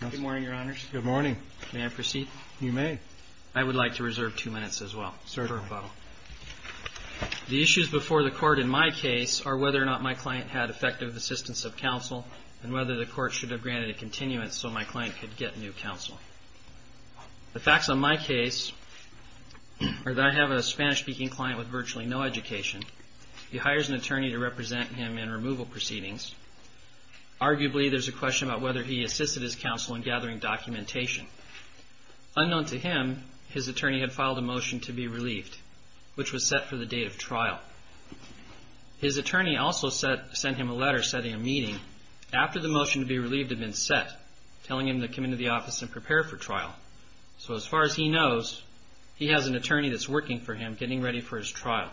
Good morning, Your Honors. Good morning. May I proceed? You may. I would like to reserve two minutes as well for rebuttal. Certainly. The issues before the court in my case are whether or not my client had effective assistance of counsel and whether the court should have granted a continuance so my client could get new counsel. The facts on my case are that I have a Spanish-speaking client with virtually no education. He hires an attorney to represent him in removal proceedings. Arguably, there's a question about whether he assisted his counsel in gathering documentation. Unknown to him, his attorney had filed a motion to be relieved, which was set for the date of trial. His attorney also sent him a letter setting a meeting after the motion to be relieved had been set, telling him to come into the office and prepare for trial. So as far as he knows, he has an attorney that's working for him, getting ready for his trial.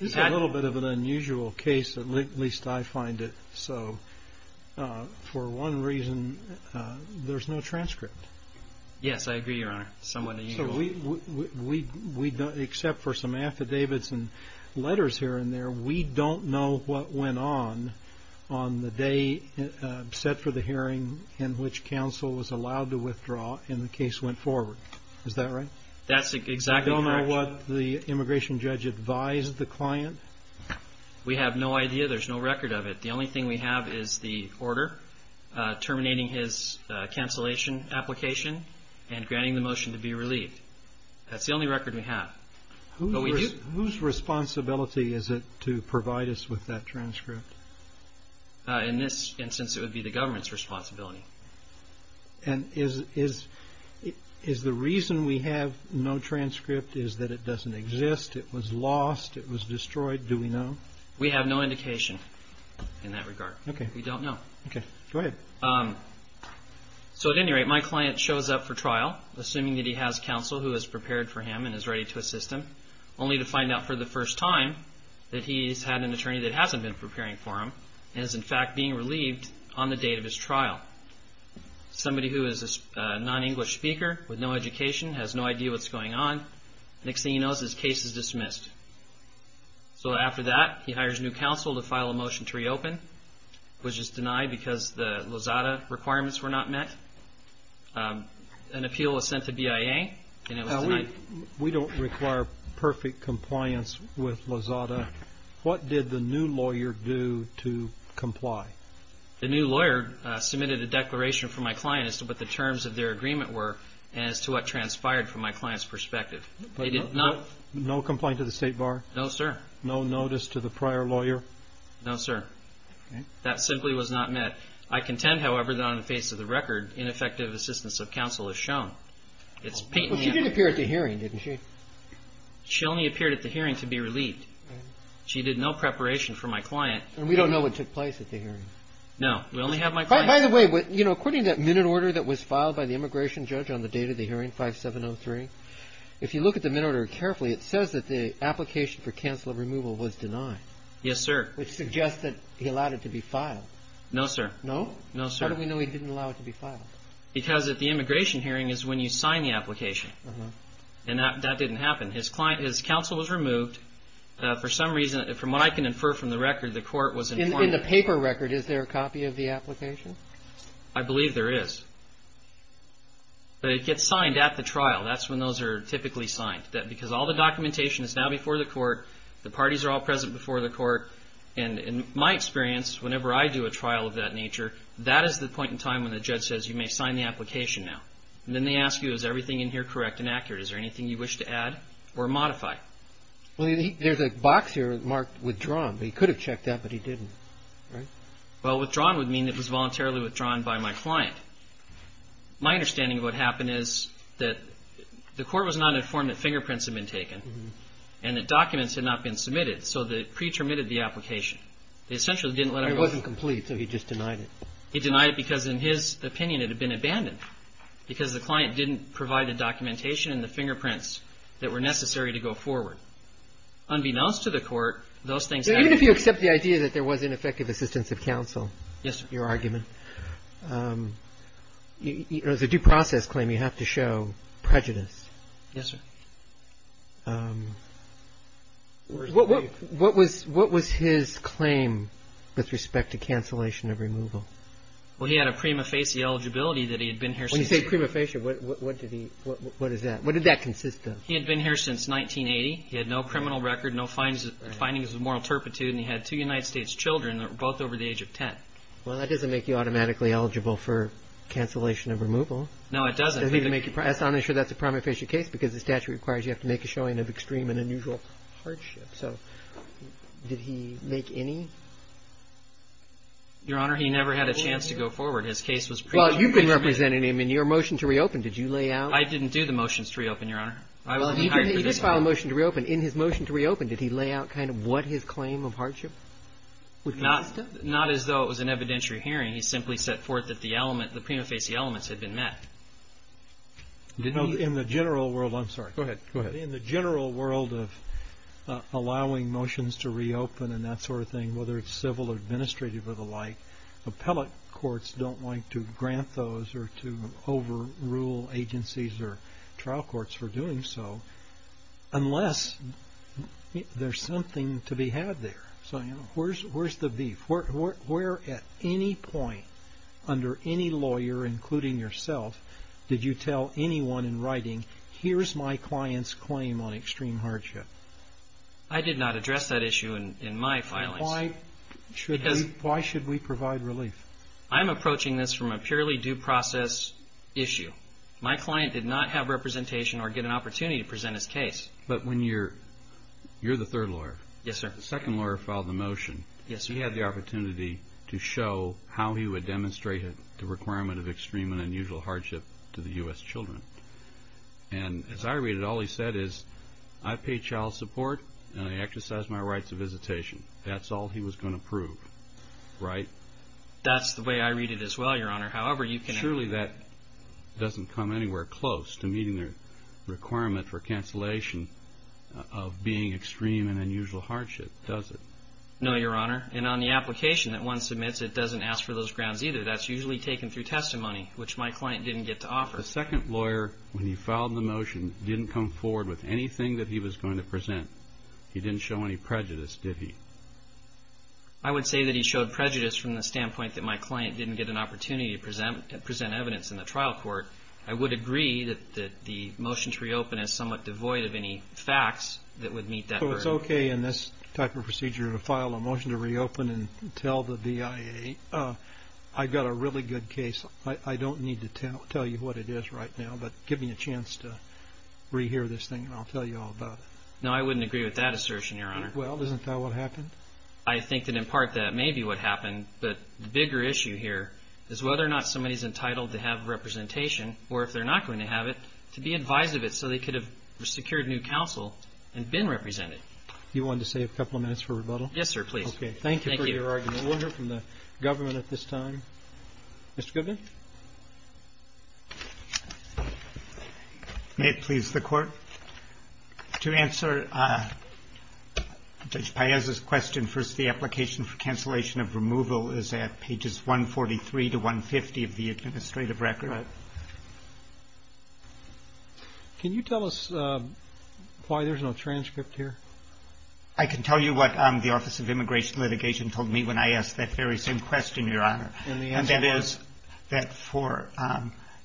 This is a little bit of an unusual case, at least I find it so. For one reason, there's no transcript. Yes, I agree, Your Honor. Somewhat unusual. Except for some affidavits and letters here and there, we don't know what went on on the day set for the hearing in which counsel was allowed to withdraw and the case went forward. Is that right? That's exactly correct. Is that what the immigration judge advised the client? We have no idea. There's no record of it. The only thing we have is the order terminating his cancellation application and granting the motion to be relieved. That's the only record we have. Whose responsibility is it to provide us with that transcript? In this instance, it would be the government's And is the reason we have no transcript is that it doesn't exist? It was lost? It was destroyed? Do we know? We have no indication in that regard. We don't know. Okay. Go ahead. So at any rate, my client shows up for trial, assuming that he has counsel who is prepared for him and is ready to assist him, only to find out for the first time that he's had an attorney that hasn't been preparing for him and is in fact being relieved on the date of his trial. Somebody who is a non-English speaker with no education, has no idea what's going on. Next thing he knows, his case is dismissed. So after that, he hires new counsel to file a motion to reopen, which is denied because the Lozada requirements were not met. An appeal was sent to BIA and it was denied. We don't require perfect compliance with Lozada. What did the new lawyer do to comply? The new lawyer submitted a declaration for my client as to what the terms of their agreement were and as to what transpired from my client's perspective. No complaint to the state bar? No, sir. No notice to the prior lawyer? No, sir. That simply was not met. I contend, however, that on the face of the record, ineffective assistance of counsel is shown. She did appear at the hearing, didn't she? She only appeared at the hearing to be relieved. She did no preparation for my client. And we don't know what took place at the hearing? No, we only have my client. By the way, according to that minute order that was filed by the immigration judge on the date of the hearing, 5703, if you look at the minute order carefully, it says that the application for counsel removal was denied. Yes, sir. Which suggests that he allowed it to be filed. No, sir. No? No, sir. How do we know he didn't allow it to be filed? Because at the immigration hearing is when you sign the application. And that didn't happen. His counsel was removed. For some reason, from what I can infer from the record, the court was informed. In the paper record, is there a copy of the application? I believe there is. But it gets signed at the trial. That's when those are typically signed. Because all the documentation is now before the court. The parties are all present before the court. And in my experience, whenever I do a trial of that nature, that is the point in time when the judge says, you may sign the application now. And then they ask you, is everything in here correct and accurate? Is there anything you wish to add or modify? Well, there's a box here marked withdrawn. He could have checked that, but he didn't. Right? Well, withdrawn would mean it was voluntarily withdrawn by my client. My understanding of what happened is that the court was not informed that fingerprints had been taken and that documents had not been submitted. So they pre-terminated the application. They essentially didn't let He denied it because, in his opinion, it had been abandoned. Because the client didn't provide the documentation and the fingerprints that were necessary to go forward. Unbeknownst to the court, those things happened. Even if you accept the idea that there was ineffective assistance of counsel, your argument, you know, it's a due process claim. You have to show prejudice. Yes, sir. What was his claim with respect to cancellation of removal? Well, he had a prima facie eligibility that he had been here since When you say prima facie, what did he, what is that? What did that consist of? He had been here since 1980. He had no criminal record, no findings of moral turpitude, and he had two United States children that were both over the age of 10. Well, that doesn't make you automatically eligible for cancellation of removal. No, it doesn't. I'm not sure that's a prima facie case because the statute requires you have to make a showing of extreme and unusual hardship. So, did he make any? Your Honor, he never had a chance to go forward. His case was pre- Well, you've been representing him in your motion to reopen. Did you lay out? I didn't do the motions to reopen, Your Honor. I was hired for this one. Well, he did file a motion to reopen. In his motion to reopen, did he lay out kind of what his claim of hardship was? Not as though it was an evidentiary hearing. He simply set forth that the element, the prima facie elements had been met. In the general world of allowing motions to reopen and that sort of thing, whether it's civil or administrative or the like, appellate courts don't like to grant those or to overrule agencies or trial courts for doing so unless there's something to be had there. So, where's the beef? Where at any point under any lawyer, including yourself, did you tell anyone in writing, here's my client's claim on extreme hardship? I did not address that issue in my filings. Why should we provide relief? I'm approaching this from a purely due process issue. My client did not have representation or get an opportunity to present his case. You're the third lawyer. Yes, sir. The second lawyer filed the motion. Yes, sir. He had the opportunity to show how he would demonstrate the requirement of extreme and unusual hardship to the U.S. children. And as I read it, all he said is, I pay child support and I exercise my rights of visitation. That's all he was going to prove, right? That's the way I read it as well, Your Honor. Surely that doesn't come anywhere close to meeting the requirement for cancellation of being extreme and unusual hardship, does it? No, Your Honor. And on the application that one submits, it doesn't ask for those grounds either. That's usually taken through testimony, which my client didn't get to offer. The second lawyer, when he filed the motion, didn't come forward with anything that he was going to present. He didn't show any prejudice, did he? I would say that he showed prejudice from the standpoint that my client didn't get an opportunity to present evidence in the trial court. I would agree that the motion to reopen is somewhat devoid of any facts that would meet that burden. So it's okay in this type of procedure to file a motion to reopen and tell the BIA, I've got a really good case. I don't need to tell you what it is right now, but give me a chance to rehear this thing and I'll tell you all about it. No, I wouldn't agree with that assertion, Your Honor. Well, isn't that what happened? I think that in part that may be what happened, but the bigger issue here is whether or not somebody is entitled to have representation or if they're not going to have it, to be advised of it so they could have secured new counsel and been represented. Do you want to save a couple of minutes for rebuttal? Yes, sir, please. Okay. Thank you for your argument. We'll hear from the government at this time. Mr. Goodman? May it please the Court? To answer Judge Paez's question, first the application for cancellation of removal is at pages 143 to 150 of the administrative record. Right. Can you tell us why there's no transcript here? I can tell you what the Office of Immigration Litigation told me when I asked that very same question, Your Honor. And the answer was? It was that for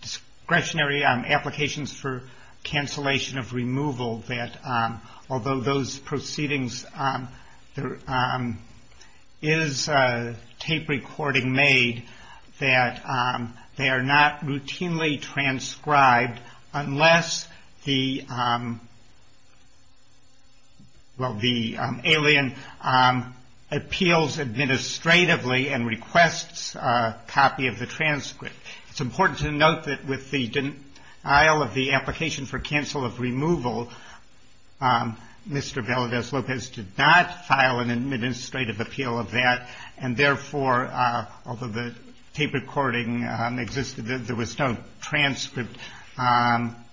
discretionary applications for cancellation of removal, that although those proceedings, there is a tape recording made that they are not routinely transcribed unless the, well, the alien appeals administratively and requests a copy of the transcript. It's important to note that with the denial of the application for cancel of removal, Mr. Veladez-Lopez did not file an administrative appeal of that, and therefore, although the tape recording existed, there was no transcript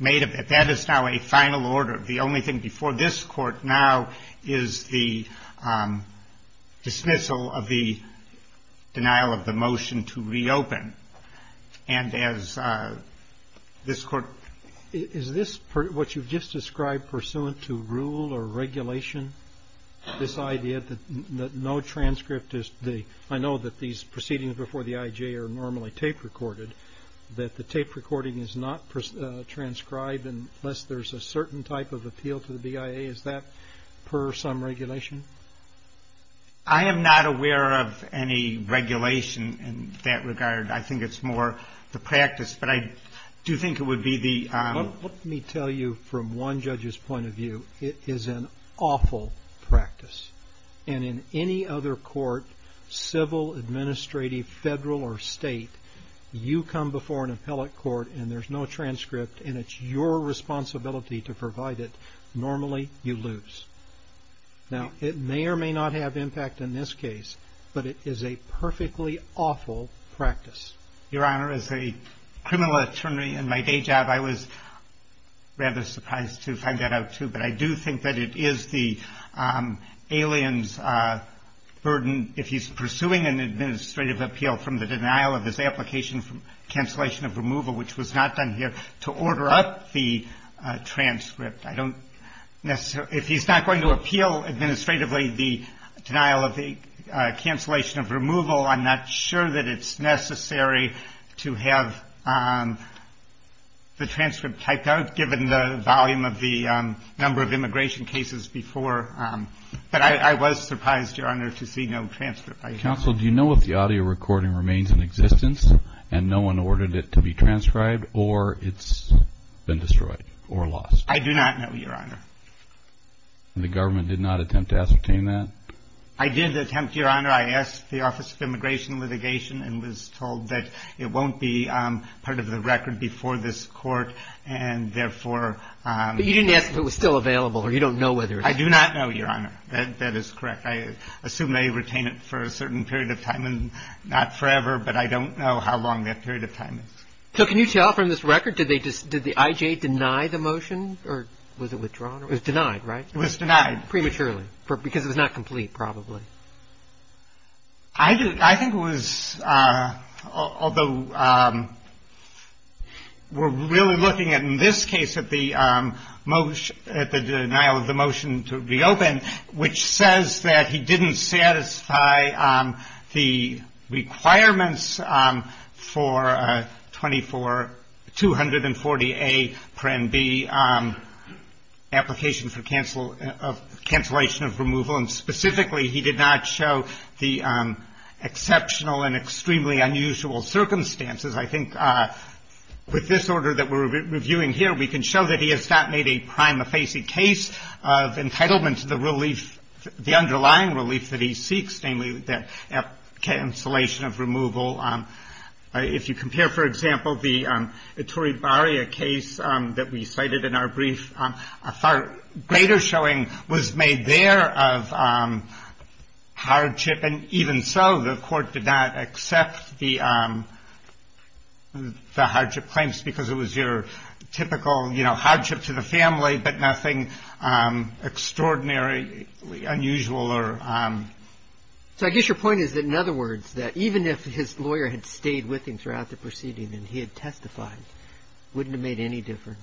made of it. That is now a final order. The only thing before this Court now is the dismissal of the denial of the motion to reopen. And as this Court ---- Is this what you've just described pursuant to rule or regulation, this idea that no transcript is the ---- I know that these proceedings before the I.J. are normally tape recorded, that the tape recording is not transcribed unless there's a certain type of appeal to the BIA. Is that per some regulation? I am not aware of any regulation in that regard. I think it's more the practice, but I do think it would be the ---- Let me tell you from one judge's point of view, it is an awful practice. And in any other court, civil, administrative, federal, or state, you come before an appellate court, and there's no transcript, and it's your responsibility to provide it. Normally, you lose. Now, it may or may not have impact in this case, but it is a perfectly awful practice. Your Honor, as a criminal attorney in my day job, I was rather surprised to find that out, too. But I do think that it is the alien's burden, if he's pursuing an administrative appeal from the denial of his application for cancellation of removal, which was not done here, to order up the transcript. I don't necessarily ---- If he's not going to appeal administratively the denial of the cancellation of removal, I'm not sure that it's necessary to have the transcript typed out, given the volume of the number of immigration cases before. But I was surprised, Your Honor, to see no transcript. Counsel, do you know if the audio recording remains in existence, and no one ordered it to be transcribed, or it's been destroyed or lost? I do not know, Your Honor. And the government did not attempt to ascertain that? I did attempt, Your Honor. I asked the Office of Immigration and Litigation, and was told that it won't be part of the record before this Court, and therefore ---- But you didn't ask if it was still available, or you don't know whether it's ---- I do not know, Your Honor. That is correct. I assume they retain it for a certain period of time, and not forever. But I don't know how long that period of time is. So can you tell from this record, did the I.J. deny the motion, or was it withdrawn? It was denied, right? It was denied. It was denied prematurely, because it was not complete, probably. I think it was, although we're really looking at, in this case, at the most ---- at the denial of the motion to reopen, which says that he didn't satisfy the requirements for 24240A, Prenn B, application for cancellation of removal. And specifically, he did not show the exceptional and extremely unusual circumstances. I think with this order that we're reviewing here, we can show that he has not made a prima facie case of entitlement to the relief, the underlying relief that he seeks, namely that cancellation of removal. If you compare, for example, the Ettore Baria case that we cited in our brief, a far greater showing was made there of hardship. And even so, the Court did not accept the hardship claims, because it was your typical, you know, unusual or ---- So I guess your point is that, in other words, that even if his lawyer had stayed with him throughout the proceeding and he had testified, it wouldn't have made any difference.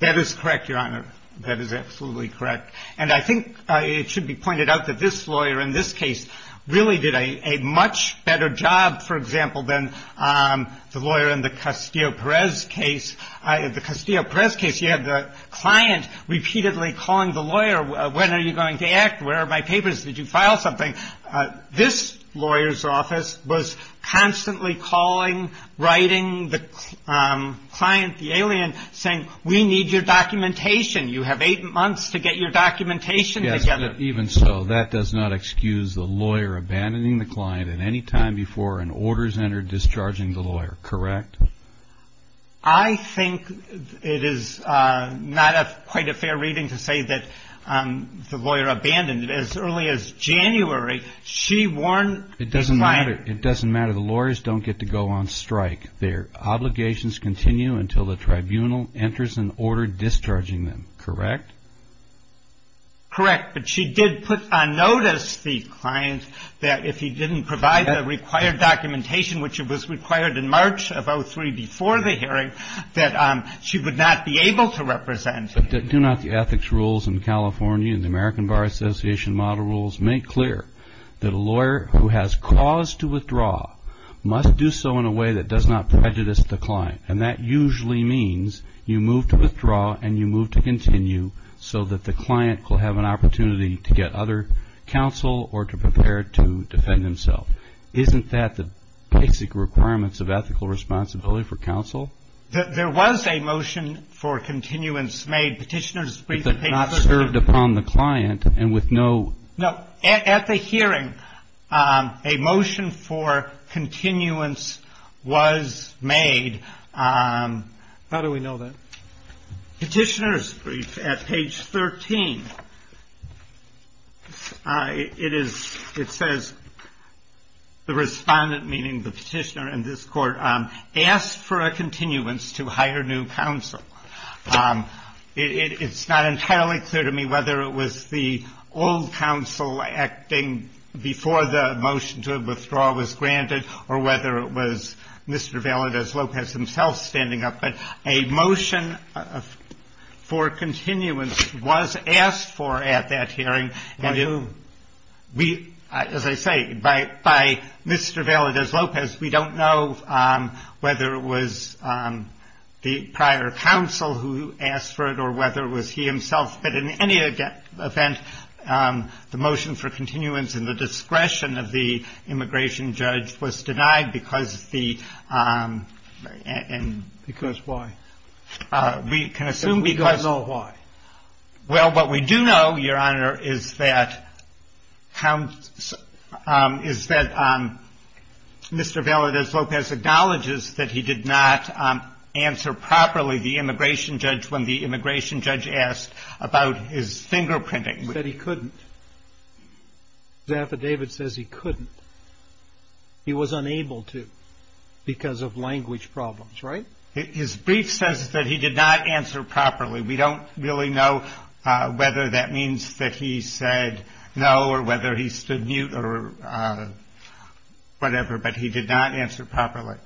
That is correct, Your Honor. That is absolutely correct. And I think it should be pointed out that this lawyer in this case really did a much better job, for example, than the lawyer in the Castillo-Perez case. In the Castillo-Perez case, you had the client repeatedly calling the lawyer, when are you going to act, where are my papers, did you file something? This lawyer's office was constantly calling, writing the client, the alien, saying, we need your documentation. You have eight months to get your documentation together. Even so, that does not excuse the lawyer abandoning the client at any time before an order is entered discharging the lawyer. Correct? I think it is not quite a fair reading to say that the lawyer abandoned. As early as January, she warned the client ---- It doesn't matter. It doesn't matter. The lawyers don't get to go on strike. Their obligations continue until the tribunal enters an order discharging them, correct? Correct. But she did put on notice the client that if he didn't provide the required documentation, which was required in March of 2003 before the hearing, that she would not be able to represent him. Do not the ethics rules in California and the American Bar Association model rules make clear that a lawyer who has cause to withdraw must do so in a way that does not prejudice the client? And that usually means you move to withdraw and you move to continue so that the client will have an opportunity to get other counsel or to prepare to defend himself. Isn't that the basic requirements of ethical responsibility for counsel? There was a motion for continuance made. Petitioner's brief at page 13. But not served upon the client and with no ---- No. At the hearing, a motion for continuance was made. How do we know that? Petitioner's brief at page 13. It says the respondent, meaning the petitioner in this court, asked for a continuance to hire new counsel. It's not entirely clear to me whether it was the old counsel acting before the motion to withdraw was granted or whether it was Mr. Valadez-Lopez himself standing up. But a motion for continuance was asked for at that hearing. As I say, by Mr. Valadez-Lopez, we don't know whether it was the prior counsel who asked for it or whether it was he himself. But in any event, the motion for continuance and the discretion of the immigration judge was denied because the ---- Because why? We can assume because of why. Well, what we do know, Your Honor, is that Mr. Valadez-Lopez acknowledges that he did not answer properly the immigration judge when the immigration judge asked about his fingerprinting. He said he couldn't. His affidavit says he couldn't. He was unable to because of language problems, right? His brief says that he did not answer properly. We don't really know whether that means that he said no or whether he stood mute or whatever. But he did not answer properly.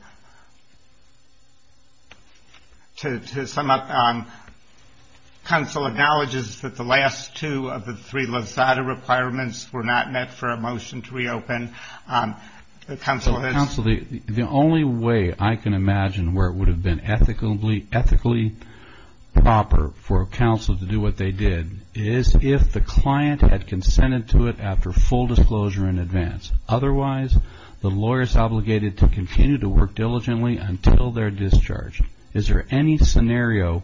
To sum up, counsel acknowledges that the last two of the three lasada requirements were not met for a motion to reopen. Counsel has ---- Counsel, the only way I can imagine where it would have been ethically proper for counsel to do what they did is if the client had consented to it after full disclosure in advance. Otherwise, the lawyer is obligated to continue to work diligently until their discharge. Is there any scenario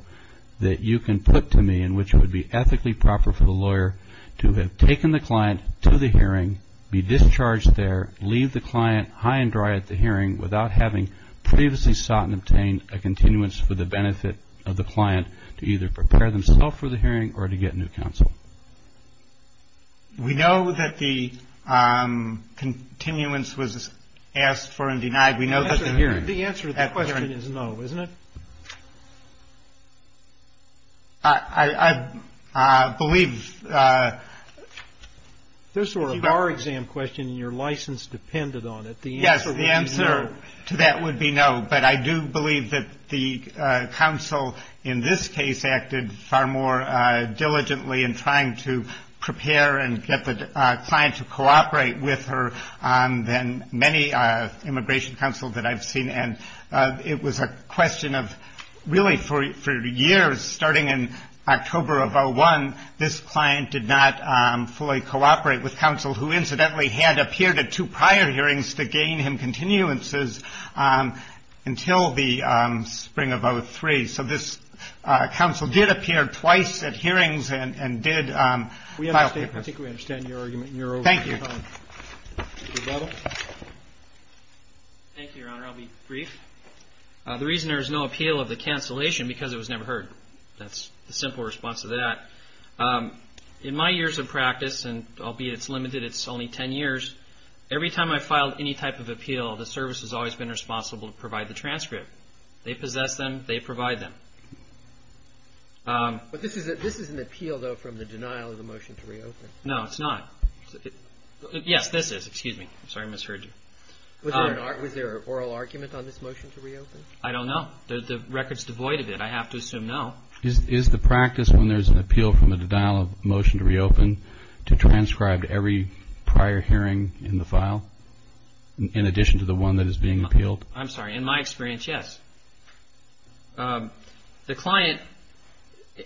that you can put to me in which it would be ethically proper for the lawyer to have taken the client to the hearing, be discharged there, leave the client high and dry at the hearing without having previously sought and obtained a continuance for the benefit of the client to either prepare themselves for the hearing or to get new counsel? We know that the continuance was asked for and denied. We know that the hearing ---- The answer to that question is no, isn't it? I believe ---- If this were a bar exam question and your license depended on it, the answer would be no. But I do believe that the counsel in this case acted far more diligently in trying to prepare and get the client to cooperate with her than many immigration counsel that I've seen. And it was a question of really for years, starting in October of 2001, this client did not fully cooperate with counsel who incidentally had appeared at two prior hearings to gain him continuances until the spring of 2003. So this counsel did appear twice at hearings and did file papers. I think we understand your argument. Thank you. Thank you, Your Honor. I'll be brief. The reason there is no appeal of the cancellation is because it was never heard. That's the simple response to that. In my years of practice, and albeit it's limited, it's only 10 years, every time I filed any type of appeal, the service has always been responsible to provide the transcript. They possess them. They provide them. But this is an appeal, though, from the denial of the motion to reopen. No, it's not. Yes, this is. Excuse me. I'm sorry I misheard you. Was there an oral argument on this motion to reopen? I don't know. The record's devoid of it. I have to assume no. Is the practice when there's an appeal from the denial of the motion to reopen to transcribe every prior hearing in the file in addition to the one that is being appealed? I'm sorry. In my experience, yes. The client,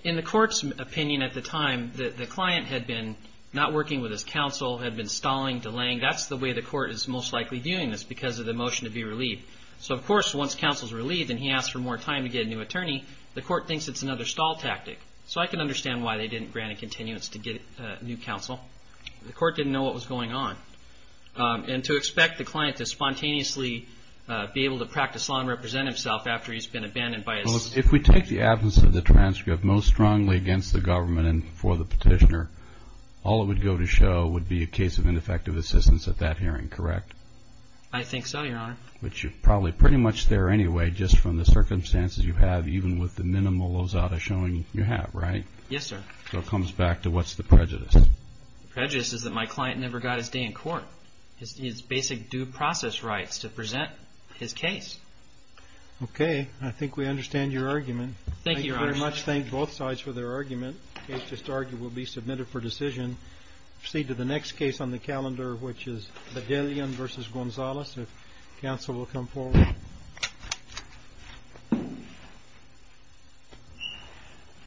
in the court's opinion at the time, the client had been not working with his counsel, had been stalling, delaying. That's the way the court is most likely viewing this, because of the motion to be relieved. So, of course, once counsel's relieved and he asks for more time to get a new attorney, the court thinks it's another stall tactic. So I can understand why they didn't grant a continuance to get a new counsel. The court didn't know what was going on. And to expect the client to spontaneously be able to practice law and represent himself after he's been abandoned by his... If we take the absence of the transcript most strongly against the government and for the petitioner, all it would go to show would be a case of ineffective assistance at that hearing, correct? I think so, Your Honor. Which is probably pretty much there anyway, just from the circumstances you have, even with the minimal lozada showing you have, right? Yes, sir. So it comes back to what's the prejudice? The prejudice is that my client never got his day in court. His basic due process rights to present his case. Okay. I think we understand your argument. Thank you, Your Honor. Thank you very much. Thank both sides for their argument. The case just argued will be submitted for decision. Proceed to the next case on the calendar, which is Bedellian v. Gonzalez. If counsel will come forward.